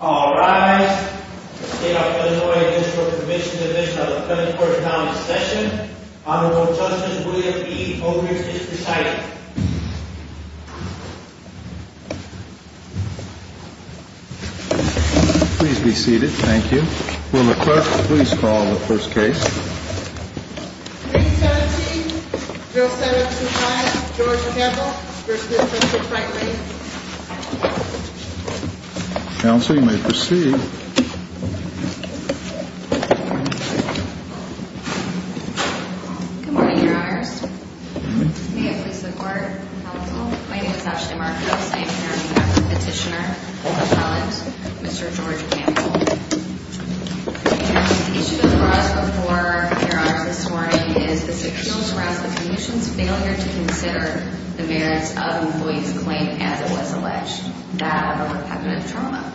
All rise. State of Illinois District Commissioned Division of the California County Session. Honorable Justice William E. O'Neill is presiding. Please be seated. Thank you. Will the clerk please call the first case. 317-0725 George Campbell versus Central Freight Lines. Counsel, you may proceed. Good morning, your honors. May it please the court. Counsel, my name is Ashley Marcos. I am the petitioner on Mr. George Campbell. And the issue before us this morning is this appeals around the commission's failure to consider the merits of an employee's claim as it was alleged, that of a repetitive trauma,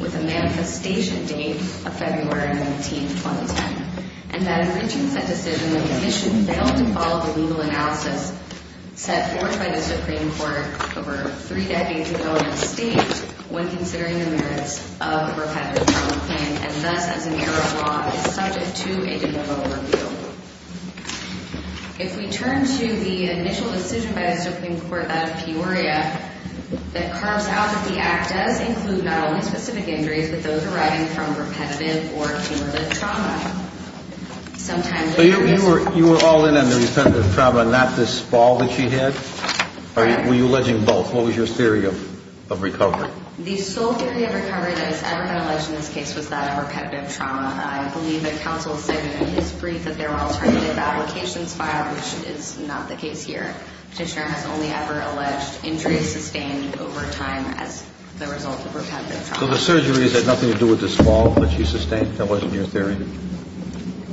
with a manifestation date of February 19, 2010. And that in reaching that decision, the commission failed to follow the legal analysis set forth by the Supreme Court over three decades ago in its state when considering the merits of a repetitive trauma claim. And thus, as an error of law, is subject to a criminal review. If we turn to the initial decision by the Supreme Court that of Peoria, that carves out that the act does include not only specific injuries, but those arriving from repetitive or cumulative trauma. So you were all in on the repetitive trauma, not this fall that she had? Or were you alleging both? What was your theory of recovery? The sole theory of recovery that was ever been alleged in this case was that of repetitive trauma. I believe that counsel said in his brief that there were alternative applications filed, which is not the case here. Petitioner has only ever alleged injuries sustained over time as the result of repetitive trauma. So the surgeries had nothing to do with this fall that she sustained? That wasn't your theory?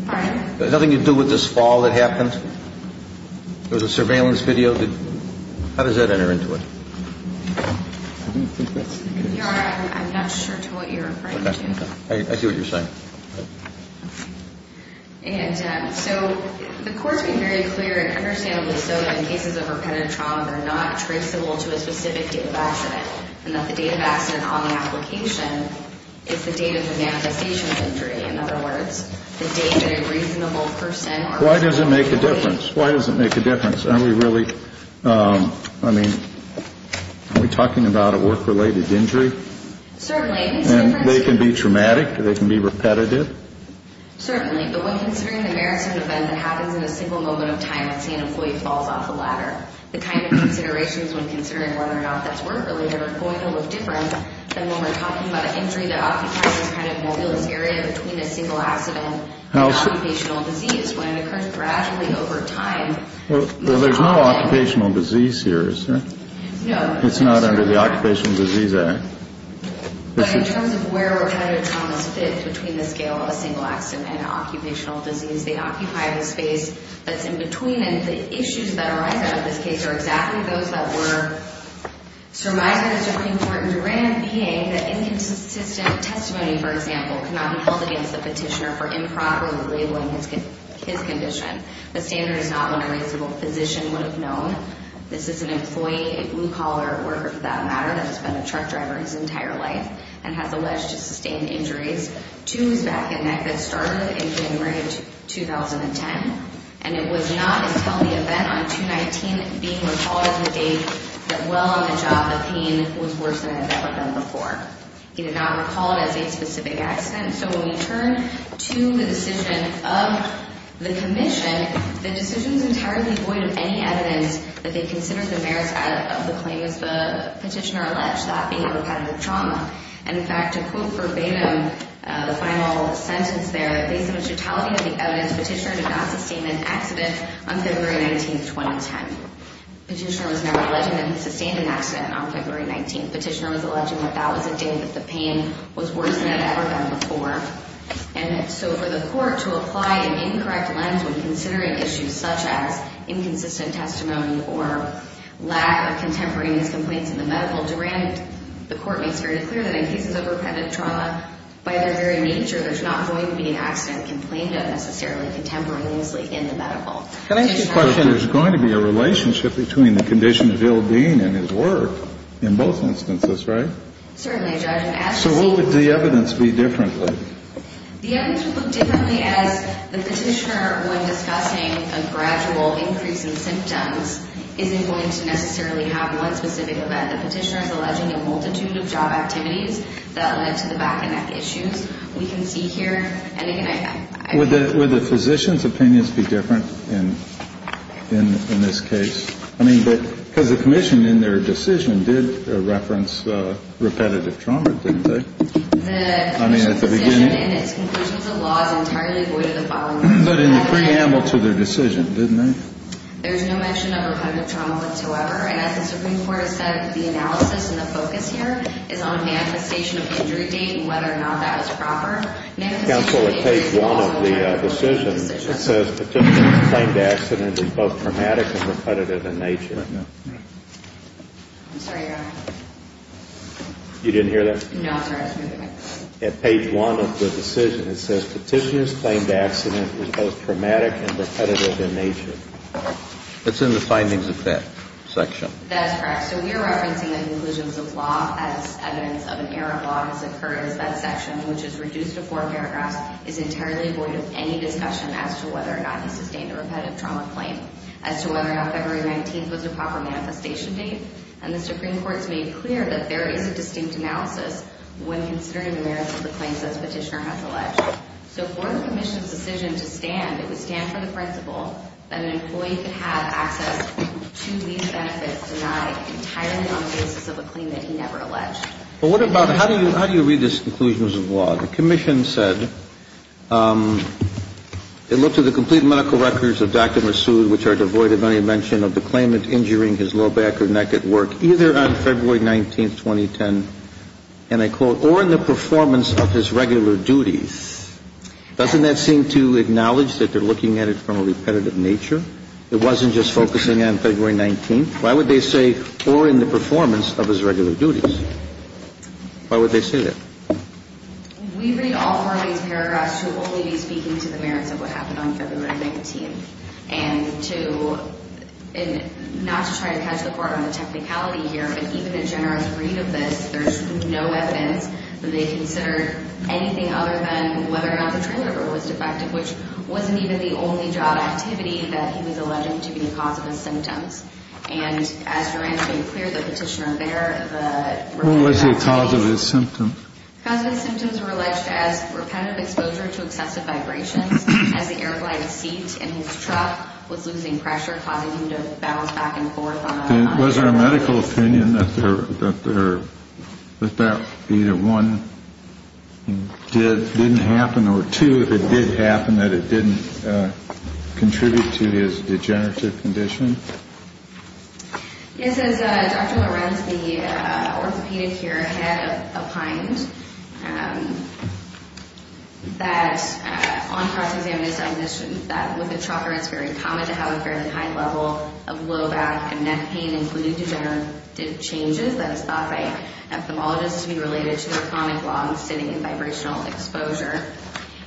Pardon? Nothing to do with this fall that happened? There was a surveillance video? How does that enter into it? I'm not sure to what you're referring to. I see what you're saying. And so the court's been very clear and understandably so that in cases of repetitive trauma, they're not traceable to a specific date of accident. And that the date of accident on the application is the date of the manifestation of the injury. In other words, the date that a reasonable person or person... Why does it make a difference? Why does it make a difference? Are we really, I mean, are we talking about a work-related injury? Certainly. And they can be traumatic, they can be repetitive? Certainly. But when considering the merits of an event that happens in a single moment of time, let's say an employee falls off a ladder, the kind of considerations when considering whether or not that's work-related are going to look different than when we're talking about an injury that occupies this kind of mobulous area between a single accident and occupational disease when it occurs gradually over time. Well, there's no occupational disease here, is there? No. It's not under the Occupational Disease Act. But in terms of where repetitive traumas fit between the scale of a single accident and occupational disease, they occupy the space that's in between. And the issues that arise out of this case are exactly those that were surmised as important, for Duran being that inconsistent testimony, for example, cannot be held against the petitioner for improperly labeling his condition. The standard is not one a reasonable physician would have known. This is an employee, a blue-collar worker for that matter, that has been a truck driver his entire life and has alleged to sustain injuries to his back and neck that started in January of 2010. And it was not until the event on 2-19 being recalled as the date that, while on the job, the pain was worse than it had ever been before. He did not recall it as a specific accident. So when we turn to the decision of the commission, the decision is entirely void of any evidence that they consider the merits of the claim, as the petitioner alleged, that being repetitive trauma. And, in fact, to quote verbatim the final sentence there, based on the totality of the evidence, the petitioner did not sustain an accident on February 19, 2010. The petitioner was now alleging that he sustained an accident on February 19. The petitioner was alleging that that was a date that the pain was worse than it had ever been before. And so for the court to apply an incorrect lens when considering issues such as inconsistent testimony or lack of contemporaneous complaints in the medical, the court makes very clear that in cases of repetitive trauma, by their very nature, there's not going to be an accident complained of necessarily contemporaneously in the medical. Can I ask you a question? There's going to be a relationship between the condition of Bill Dean and his work in both instances, right? Certainly, Judge. So what would the evidence be differently? The evidence would look differently as the petitioner, when discussing a gradual increase in symptoms, isn't going to necessarily have one specific event. The petitioner is alleging a multitude of job activities that led to the back and neck issues. We can see here. Would the physician's opinions be different in this case? I mean, because the commission, in their decision, did reference repetitive trauma, didn't they? I mean, at the beginning? But in the preamble to their decision, didn't they? There's no mention of repetitive trauma whatsoever. And as the Supreme Court has said, the analysis and the focus here is on a manifestation of injury date and whether or not that is proper. Counsel, at page one of the decision, it says, Petitioner's claimed accident is both traumatic and repetitive in nature. I'm sorry, Your Honor. You didn't hear that? No, I'm sorry. At page one of the decision, it says, Petitioner's claimed accident is both traumatic and repetitive in nature. It's in the findings of that section. That's correct. So we are referencing the conclusions of law as evidence of an error of law has occurred as that section, which is reduced to four paragraphs, is entirely void of any discussion as to whether or not he sustained a repetitive trauma claim, as to whether or not February 19th was the proper manifestation date. And the Supreme Court has made clear that there is a distinct analysis when considering the merits of the claims, as Petitioner has alleged. So for the commission's decision to stand, it would stand for the principle that an employee could have access to these benefits denied entirely on the basis of a claim that he never alleged. Well, what about how do you read these conclusions of law? The commission said it looked at the complete medical records of Dr. Massoud, which are devoid of any mention of the claimant injuring his low back or neck at work, either on February 19th, 2010, and I quote, or in the performance of his regular duties. Doesn't that seem to acknowledge that they're looking at it from a repetitive nature? It wasn't just focusing on February 19th. Why would they say or in the performance of his regular duties? Why would they say that? We read all four of these paragraphs to only be speaking to the merits of what happened on February 19th. And to not to try to catch the part on the technicality here, but even a generous read of this, there's no evidence that they considered anything other than whether or not the trailer was defective, which wasn't even the only job activity that he was alleged to be the cause of his symptoms. And as you're unclear, the petitioner there was the cause of his symptoms. His symptoms were alleged as repetitive exposure to excessive vibrations as the airplane seat in his truck was losing pressure, causing him to bounce back and forth. Was there a medical opinion that there was that either one did didn't happen or two, that it did happen, that it didn't contribute to his degenerative condition? Yes, as Dr. Lorenz, the orthopedic here, had opined that on cross-examination, that with a trucker, it's very common to have a fairly high level of low back and neck pain, including degenerative changes that is thought by ophthalmologists to be related to their chronic lungs sitting in vibrational exposure.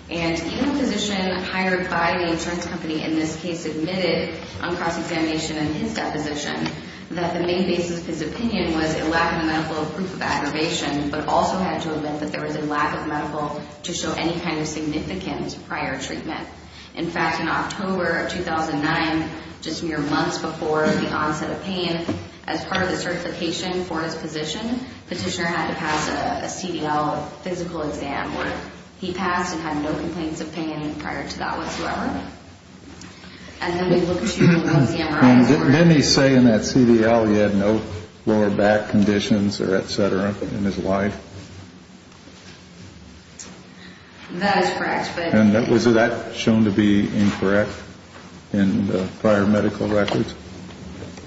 And even a physician hired by the insurance company in this case admitted on cross-examination in his deposition that the main basis of his opinion was a lack of a medical proof of aggravation, but also had to admit that there was a lack of medical to show any kind of significant prior treatment. In fact, in October of 2009, just mere months before the onset of pain, as part of the certification for his position, Petitioner had to pass a CDL physical exam where he passed and had no complaints of pain prior to that whatsoever. And then we looked at the MRIs. And didn't he say in that CDL he had no lower back conditions or et cetera in his life? That is correct. And was that shown to be incorrect in the prior medical records?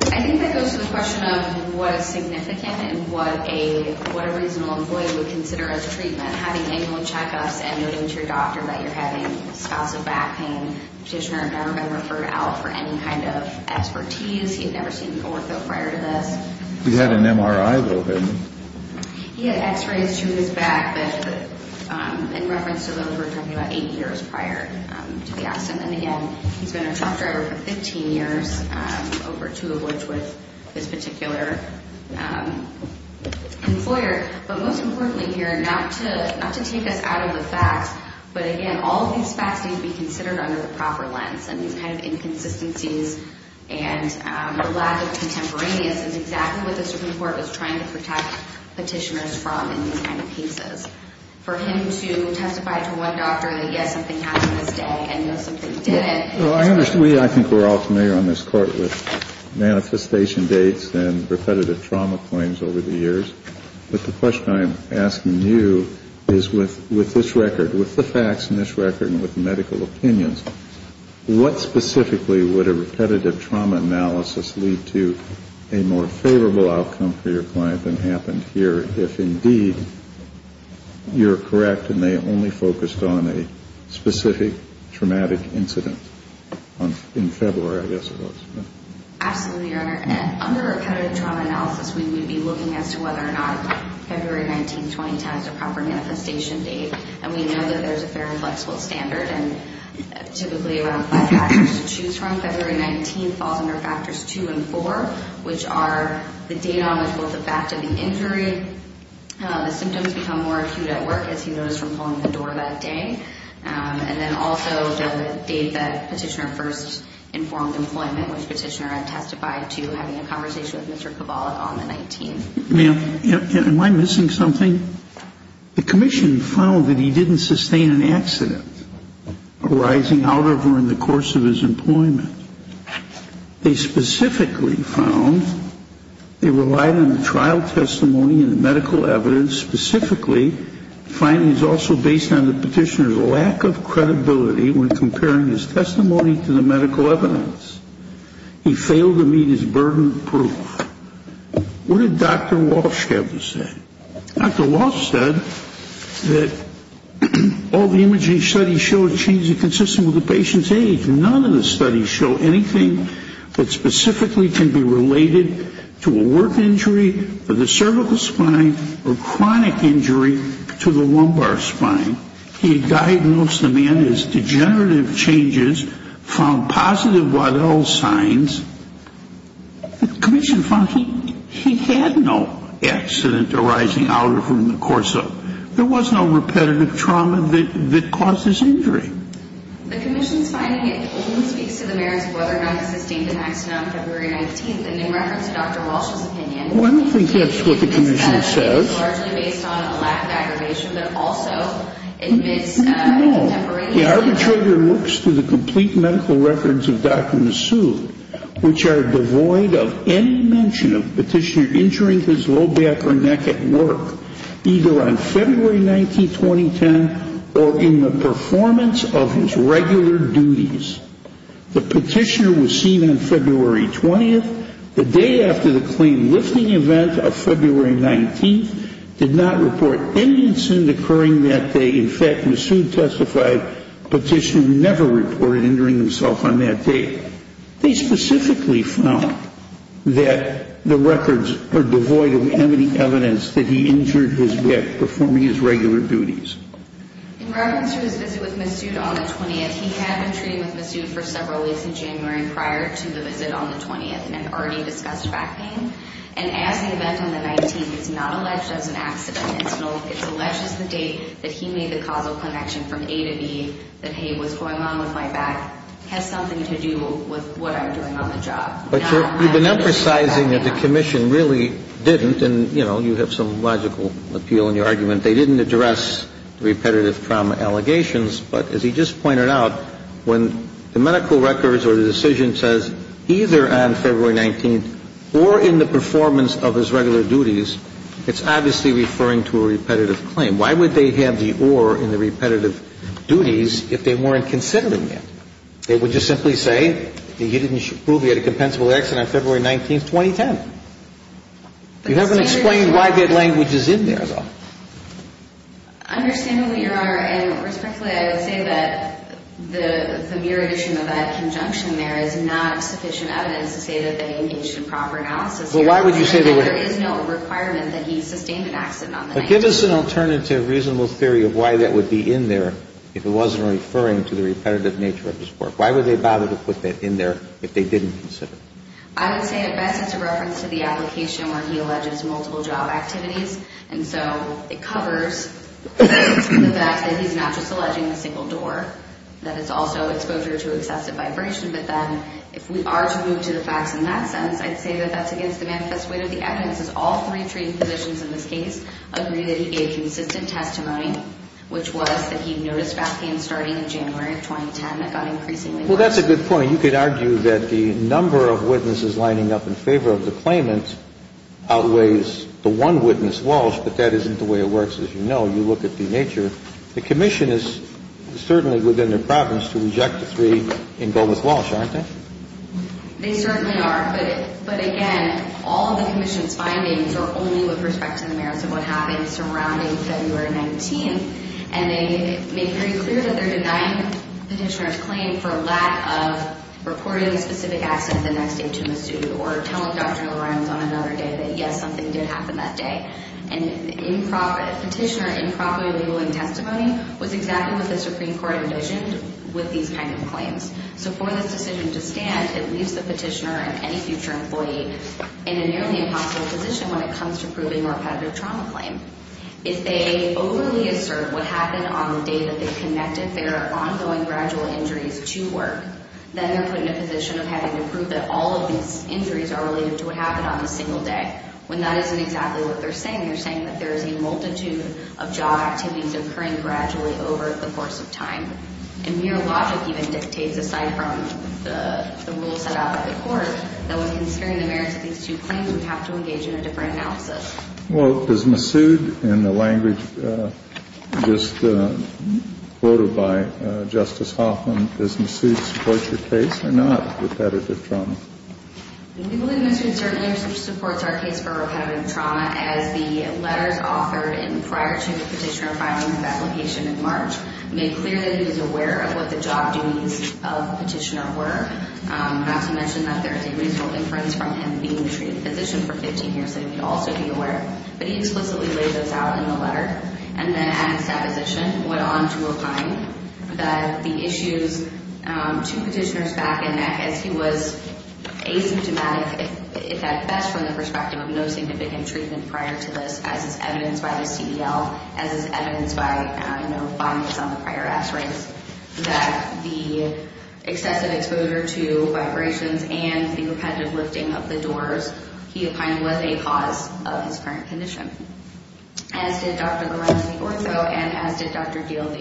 I think that goes to the question of what is significant and what a reasonable employee would consider as treatment. Having annual checkups and noting to your doctor that you're having spasms of back pain, Petitioner had never been referred out for any kind of expertise. He had never seen an ortho prior to this. He had an MRI, though, hadn't he? He had x-rays to his back, but in reference to those, we're talking about eight years prior to the accident. And, again, he's been a truck driver for 15 years, over two of which with this particular employer. But most importantly here, not to take us out of the facts, but, again, all of these facts need to be considered under the proper lens. And these kind of inconsistencies and the lack of contemporaneous is exactly what the Supreme Court was trying to protect Petitioners from in these kind of cases. For him to testify to one doctor that, yes, something happened this day and, no, something didn't. Well, I think we're all familiar on this Court with manifestation dates and repetitive trauma claims over the years. But the question I am asking you is with this record, with the facts in this record and with medical opinions, what specifically would a repetitive trauma analysis lead to a more favorable outcome for your client than happened here, if, indeed, you're correct and they only focused on a specific traumatic incident in February, I guess it was. Absolutely, Your Honor. Under repetitive trauma analysis, we would be looking as to whether or not February 19, 2010 is a proper manifestation date. And we know that there's a fair and flexible standard. And typically around five factors to choose from, February 19 falls under factors two and four, which are the date on which both the fact of the injury, the symptoms become more acute at work, as he noticed from pulling the door that day. And then also the date that Petitioner first informed employment, which Petitioner had testified to having a conversation with Mr. Kabbalah on the 19th. Ma'am, am I missing something? The Commission found that he didn't sustain an accident arising out of or in the course of his employment. They specifically found they relied on the trial testimony and the medical evidence, specifically findings also based on the Petitioner's lack of credibility when comparing his testimony to the medical evidence. He failed to meet his burden of proof. What did Dr. Walsh have to say? Dr. Walsh said that all the imaging studies showed changes consistent with the patient's age, but none of the studies show anything that specifically can be related to a work injury or the cervical spine or chronic injury to the lumbar spine. He diagnosed the man as degenerative changes, found positive Waddell signs. The Commission found he had no accident arising out of or in the course of. The Commission's finding only speaks to the merits of whether or not he sustained an accident on February 19th, and in reference to Dr. Walsh's opinion. Well, I don't think that's what the Commission says. It's largely based on a lack of aggravation, but also admits a contemporary. No, the arbitrator looks through the complete medical records of Dr. Massoud, which are devoid of any mention of Petitioner injuring his low back or neck at work, either on February 19, 2010, or in the performance of his regular duties. The Petitioner was seen on February 20th, the day after the claim lifting event of February 19th, did not report any incident occurring that day. In fact, Massoud testified Petitioner never reported injuring himself on that day. They specifically found that the records are devoid of any evidence that he injured his neck performing his regular duties. In reference to his visit with Massoud on the 20th, he had been treating with Massoud for several weeks in January prior to the visit on the 20th, and had already discussed back pain. And as the event on the 19th is not alleged as an accident, it's alleged as the date that he made the causal connection from A to B, that, hey, what's going on with my back has something to do with what I'm doing on the job. But you've been emphasizing that the Commission really didn't, and, you know, you have some logical appeal in your argument. They didn't address repetitive trauma allegations. But as he just pointed out, when the medical records or the decision says either on February 19th or in the performance of his regular duties, it's obviously referring to a repetitive claim. And why would they have the or in the repetitive duties if they weren't considering it? They would just simply say that he didn't prove he had a compensable accident on February 19th, 2010. You haven't explained why that language is in there, though. Understanding what Your Honor, and respectfully, I would say that the mere addition of that conjunction there is not sufficient evidence to say that they engaged in proper analysis. Well, why would you say they were? There is no requirement that he sustained an accident on the 19th. But give us an alternative reasonable theory of why that would be in there if it wasn't referring to the repetitive nature of his work. Why would they bother to put that in there if they didn't consider it? I would say at best it's a reference to the application where he alleges multiple job activities. And so it covers the fact that he's not just alleging a single door, that it's also exposure to excessive vibration. But then if we are to move to the facts in that sense, I'd say that that's against the manifest weight of the evidence, as all three treating positions in this case agree that he gave consistent testimony, which was that he noticed backhands starting in January of 2010 that got increasingly worse. Well, that's a good point. You could argue that the number of witnesses lining up in favor of the claimant outweighs the one witness, Walsh, but that isn't the way it works, as you know. You look at the nature. The commission is certainly within their province to reject the three and go with Walsh, aren't they? They certainly are. But, again, all of the commission's findings are only with respect to the merits of what happened surrounding February 19th. And they made pretty clear that they're denying the petitioner's claim for lack of reporting a specific accident the next day to the suit or telling Dr. LaReynolds on another day that, yes, something did happen that day. And the petitioner improperly labeling testimony was exactly what the Supreme Court envisioned with these kind of claims. So for this decision to stand, it leaves the petitioner and any future employee in a nearly impossible position when it comes to proving repetitive trauma claim. If they overly assert what happened on the day that they connected their ongoing gradual injuries to work, then they're put in a position of having to prove that all of these injuries are related to what happened on the single day, when that isn't exactly what they're saying. They're saying that there is a multitude of job activities occurring gradually over the course of time. And mere logic even dictates, aside from the rules set out by the court, that when considering the merits of these two claims, we have to engage in a different analysis. Well, does Massoud, in the language just quoted by Justice Hoffman, does Massoud support your case or not, repetitive trauma? We believe Mr. Concernier supports our case for repetitive trauma, as the letters authored prior to the petitioner filing his application in March made clear that he was aware of what the job duties of the petitioner were, not to mention that there is a reasonable inference from him being a treated physician for 15 years that he would also be aware. But he explicitly laid those out in the letter, and then at his deposition went on to as is evidenced by the CDL, as is evidenced by, you know, findings on the prior x-rays, that the excessive exposure to vibrations and the repetitive lifting of the doors he opined was a cause of his current condition. As did Dr. Lorenzo de Orto, and as did Dr. Diehl,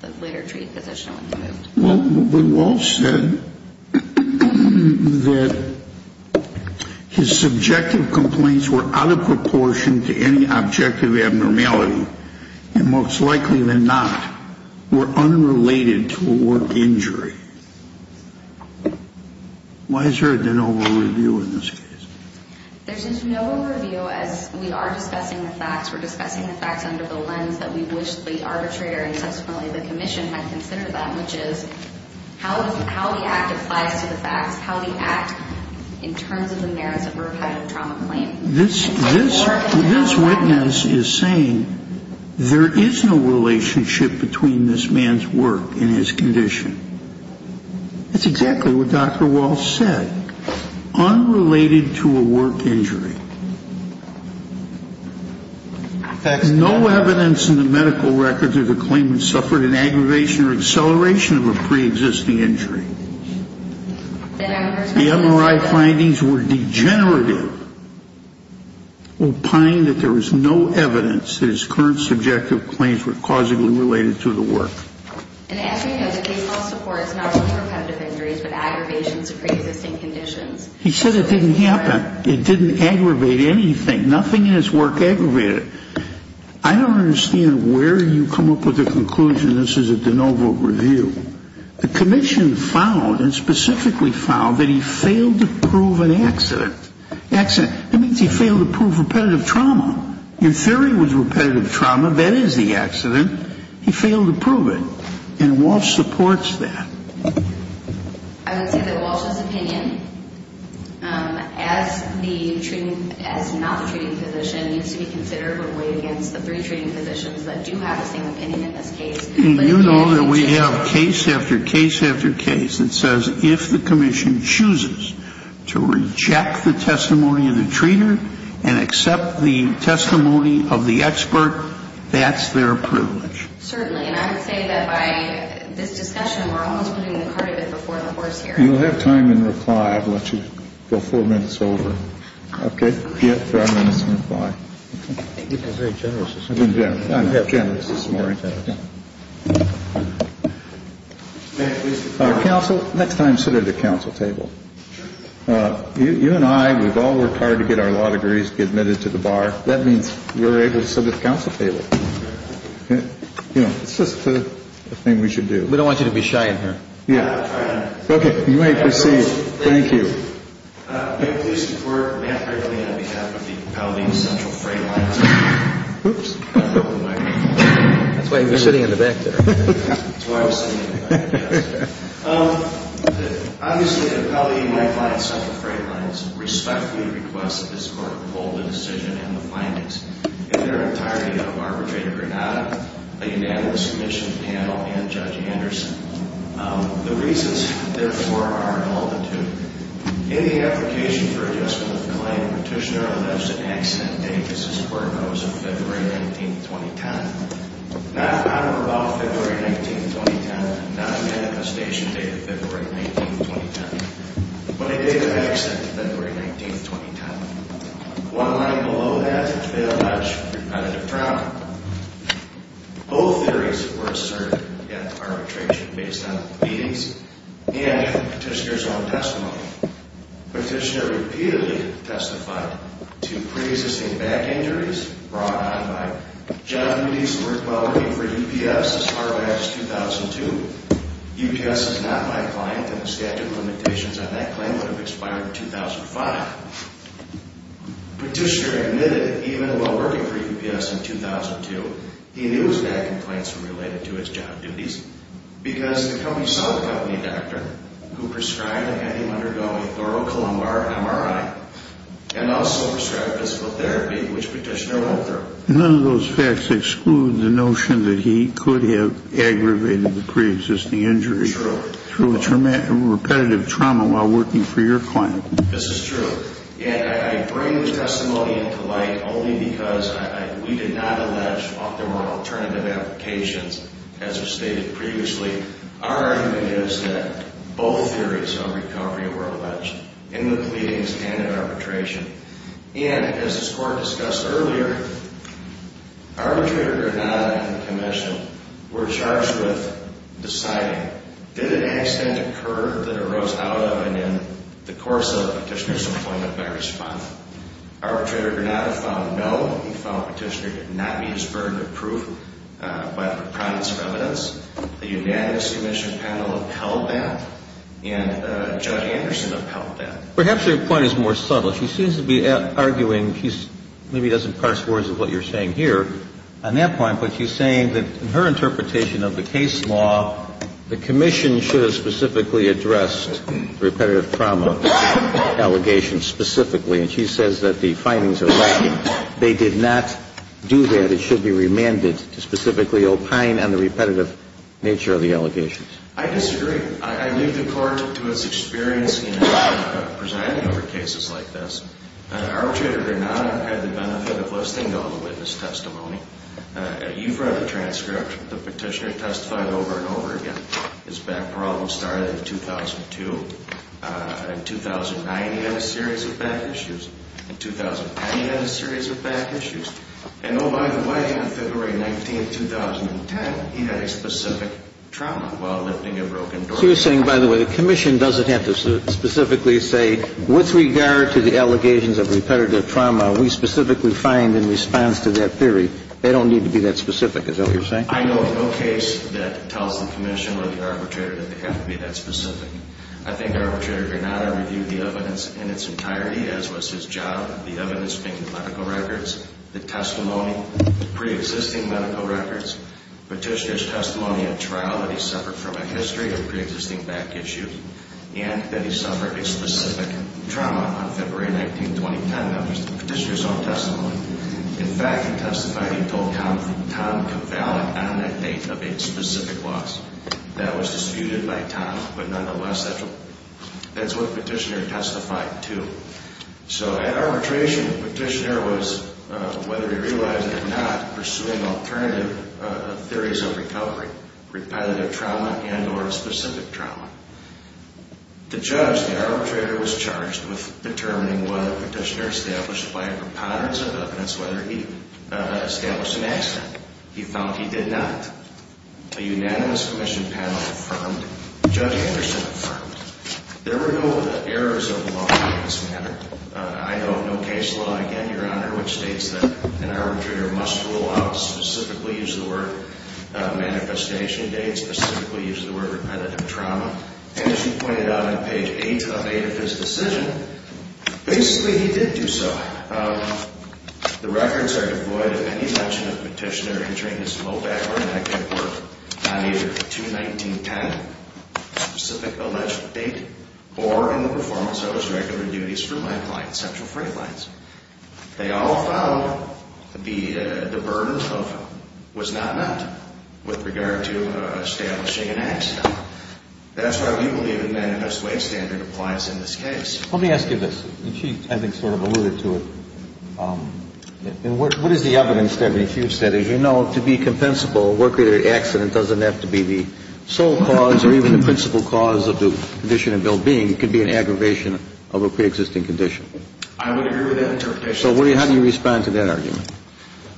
the later treated physician, when he moved. Well, but Wolf said that his subjective complaints were out of proportion to any objective abnormality, and most likely than not were unrelated to a work injury. Why is there a de novo review in this case? There's a de novo review, as we are discussing the facts. We're discussing the facts under the lens that we wish the arbitrator and subsequently the commission might consider that, which is how the act applies to the facts, how the act in terms of the merits of a repetitive trauma claim. This witness is saying there is no relationship between this man's work and his condition. That's exactly what Dr. Wolf said, unrelated to a work injury. No evidence in the medical records of the claimant suffered an aggravation or acceleration of a preexisting injury. The MRI findings were degenerative, opining that there was no evidence that his current subjective claims were causally related to the work. And as we know, the case law supports not only repetitive injuries but aggravations of preexisting conditions. He said it didn't happen. It didn't aggravate anything. Nothing in his work aggravated it. I don't understand where you come up with the conclusion this is a de novo review. The commission found and specifically found that he failed to prove an accident. Accident. That means he failed to prove repetitive trauma. In theory it was repetitive trauma. That is the accident. He failed to prove it. And Walsh supports that. I would say that Walsh's opinion, as not the treating physician, needs to be considered or weighed against the three treating physicians that do have the same opinion in this case. You know that we have case after case after case that says if the commission chooses to reject the testimony of the treater and accept the testimony of the expert, that's their privilege. Certainly. And I would say that by this discussion, we're almost putting the cart before the horse here. You'll have time in reply. Okay. Thank you for being very generous this morning. I've been generous. I'm generous this morning. Next time, sit at the council table. You and I, we've all worked hard to get our law degrees to be admitted to the bar. That means we're able to sit at the council table. It's just a thing we should do. We don't want you to be shy in here. Yeah. Okay. You may proceed. Thank you. May it please the Court, we have a plea on behalf of the Paladino Central Freight Lines. Oops. That's why you were sitting in the back there. That's why I was sitting in the back, yes. Obviously, the Paladino Central Freight Lines respectfully request that this Court hold the decision and the findings in their entirety of Arbitrator Granada, a unanimous commission panel, and Judge Anderson. The reasons, therefore, are an altitude. In the application for adjustment of claim, Petitioner elipsed an accident date. This is where it goes in February 19, 2010. Not on or about February 19, 2010. Not a manifestation date of February 19, 2010. But a date of accident, February 19, 2010. One line below that, failed match for competitive trauma. Both theories were asserted at arbitration based on readings and Petitioner's own testimony. Petitioner repeatedly testified to pre-existing back injuries brought on by job duties and work while working for UPS as far back as 2002. UPS is not my client, and the statute of limitations on that claim would have expired in 2005. Petitioner admitted, even while working for UPS in 2002, he knew his back complaints were related to his job duties because the company saw the company doctor who prescribed and had him undergo a thorough columbar MRI and also prescribed physical therapy, which Petitioner wrote through. None of those facts exclude the notion that he could have aggravated the pre-existing injury through repetitive trauma while working for your client. This is true. And I bring this testimony into light only because we did not allege there were alternative applications, as was stated previously. Our argument is that both theories of recovery were alleged, in the pleadings and at arbitration. And, as the Court discussed earlier, arbitrator or not, I can commission, were charged with deciding, did an accident occur that arose out of and in the course of Petitioner's employment by response? Arbitrator or not have found no. He found Petitioner did not meet his burden of proof by the promise of evidence. The unanimous commission panel upheld that, and Judge Anderson upheld that. Perhaps your point is more subtle. She seems to be arguing, she maybe doesn't parse words of what you're saying here on that point, but she's saying that in her interpretation of the case law, the commission should have specifically addressed repetitive trauma allegations specifically, and she says that the findings are lacking. They did not do that. It should be remanded to specifically opine on the repetitive nature of the allegations. I disagree. I leave the Court to its experience in presiding over cases like this. Arbitrator or not, I've had the benefit of listing all the witness testimony. You've read the transcript. The Petitioner testified over and over again. His back problem started in 2002. In 2009, he had a series of back issues. In 2009, he had a series of back issues. And, oh, by the way, on February 19, 2010, he had a specific trauma while lifting a broken door. What you're saying, by the way, the commission doesn't have to specifically say, with regard to the allegations of repetitive trauma, we specifically find in response to that theory, they don't need to be that specific. Is that what you're saying? I know of no case that tells the commission or the arbitrator that they have to be that specific. I think the arbitrator did not review the evidence in its entirety, as was his job, the evidence being the medical records, the testimony, preexisting medical records, Petitioner's testimony at trial that he suffered from a history of preexisting back issues and that he suffered a specific trauma on February 19, 2010. That was the Petitioner's own testimony. In fact, he testified he told Tom Cavalli on that date of a specific loss. That was disputed by Tom, but nonetheless, that's what Petitioner testified to. So at arbitration, Petitioner was, whether he realized it or not, pursuing alternative theories of recovery, repetitive trauma and or a specific trauma. The judge, the arbitrator, was charged with determining whether Petitioner established by a preponderance of evidence whether he established an accident. He found he did not. A unanimous commission panel affirmed. Judge Anderson affirmed. There were no errors of the law in this matter. I note no case law, again, Your Honor, which states that an arbitrator must rule out, specifically use the word manifestation date, specifically use the word repetitive trauma. And as you pointed out on page 8 of his decision, basically he did do so. The records are devoid of any mention of Petitioner entering his mobile or network on either a 2-19-10 specific alleged date or in the performance of his regular duties for my client, Central Freight Lines. They all found the burden of was not met with regard to establishing an accident. That's why we believe a unanimous way standard applies in this case. Let me ask you this. And she, I think, sort of alluded to it. What is the evidence, then, that you've said? As you know, to be compensable, a work-related accident doesn't have to be the sole cause or even the principal cause of the condition of ill-being. It could be an aggravation of a preexisting condition. I would agree with that interpretation. So how do you respond to that argument?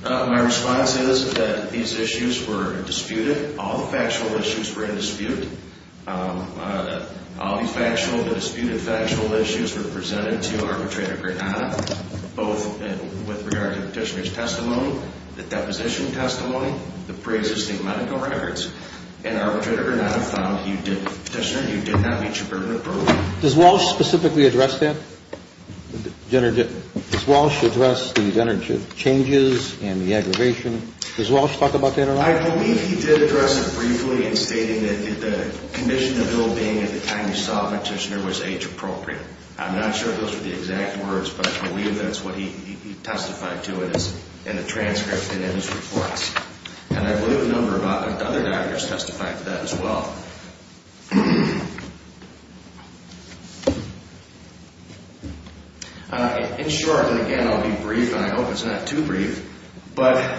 My response is that these issues were disputed. All the factual issues were in dispute. All the factual, the disputed factual issues were presented to Arbitrator Granada, both with regard to Petitioner's testimony, the deposition testimony, the preexisting medical records. And Arbitrator Granada found Petitioner, you did not meet your burden appropriately. Does Walsh specifically address that? Does Walsh address the changes and the aggravation? Does Walsh talk about that at all? I believe he did address it briefly in stating that the condition of ill-being at the time you saw Petitioner was age-appropriate. I'm not sure if those were the exact words, but I believe that's what he testified to in the transcript and in his reports. And I believe a number of other doctors testified to that as well. In short, and again I'll be brief, and I hope it's not too brief, but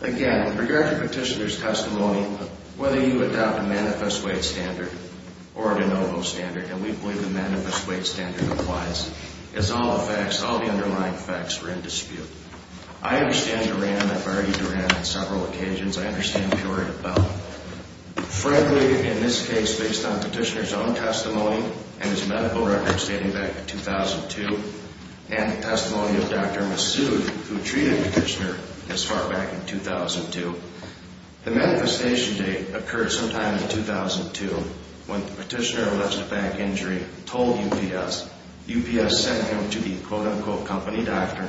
again, with regard to Petitioner's testimony, whether you adopt a manifest weight standard or a de novo standard, and we believe the manifest weight standard applies, it's all the facts, all the underlying facts were in dispute. I understand Duran, and I've argued Duran on several occasions. I understand Purer as well. Frankly, in this case, based on Petitioner's own testimony and his medical records dating back to 2002 and the testimony of Dr. Massoud, who treated Petitioner as far back as 2002, the manifestation date occurred sometime in 2002 when Petitioner alleged a back injury and told UPS. UPS sent him to the quote-unquote company doctor.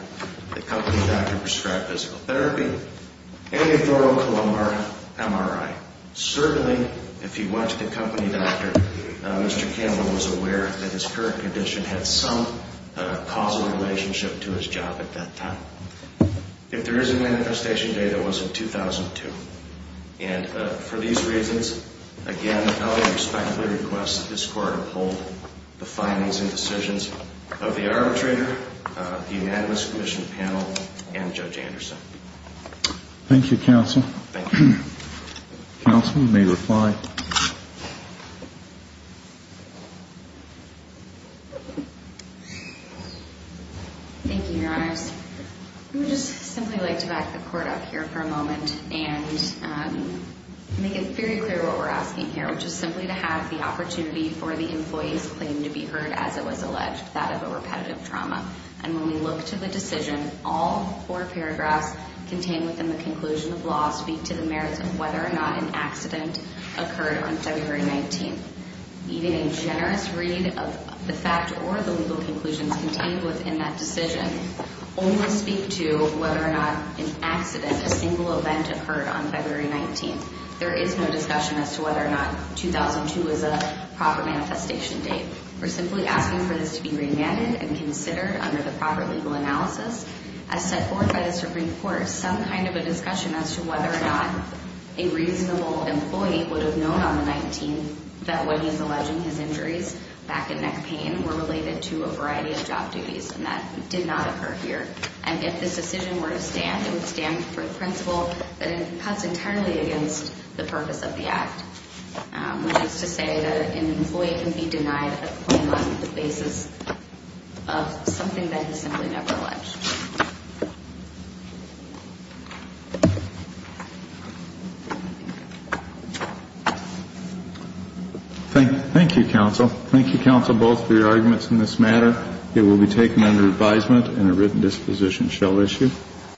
The company doctor prescribed physical therapy and a thoracolumbar MRI. Certainly, if he went to the company doctor, Mr. Campbell was aware that his current condition had some causal relationship to his job at that time. If there is a manifestation date, it was in 2002. And for these reasons, again, I would respectfully request that this Court uphold the findings and decisions of the arbitrator, the unanimous commission panel, and Judge Anderson. Thank you, counsel. Thank you. Counsel may reply. Thank you, Your Honors. I would just simply like to back the Court up here for a moment and make it very clear what we're asking here, which is simply to have the opportunity for the employee's claim to be heard as it was alleged, that of a repetitive trauma. And when we look to the decision, all four paragraphs contained within the conclusion of law speak to the merits of whether or not an accident occurred on February 19th. Even a generous read of the fact or the legal conclusions contained within that decision only speak to whether or not an accident, a single event, occurred on February 19th. There is no discussion as to whether or not 2002 is a proper manifestation date. We're simply asking for this to be remanded and considered under the proper legal analysis as set forth by the Supreme Court. Some kind of a discussion as to whether or not a reasonable employee would have known on the 19th that what he's alleging, his injuries, back and neck pain, were related to a variety of job duties, and that did not occur here. And if this decision were to stand, it would stand for the principle that it cuts entirely against the purpose of the act, which is to say that an employee can be denied a claim on the basis of something that is simply never alleged. Thank you, counsel. Thank you, counsel, both for your arguments in this matter. It will be taken under advisement and a written disposition shall issue.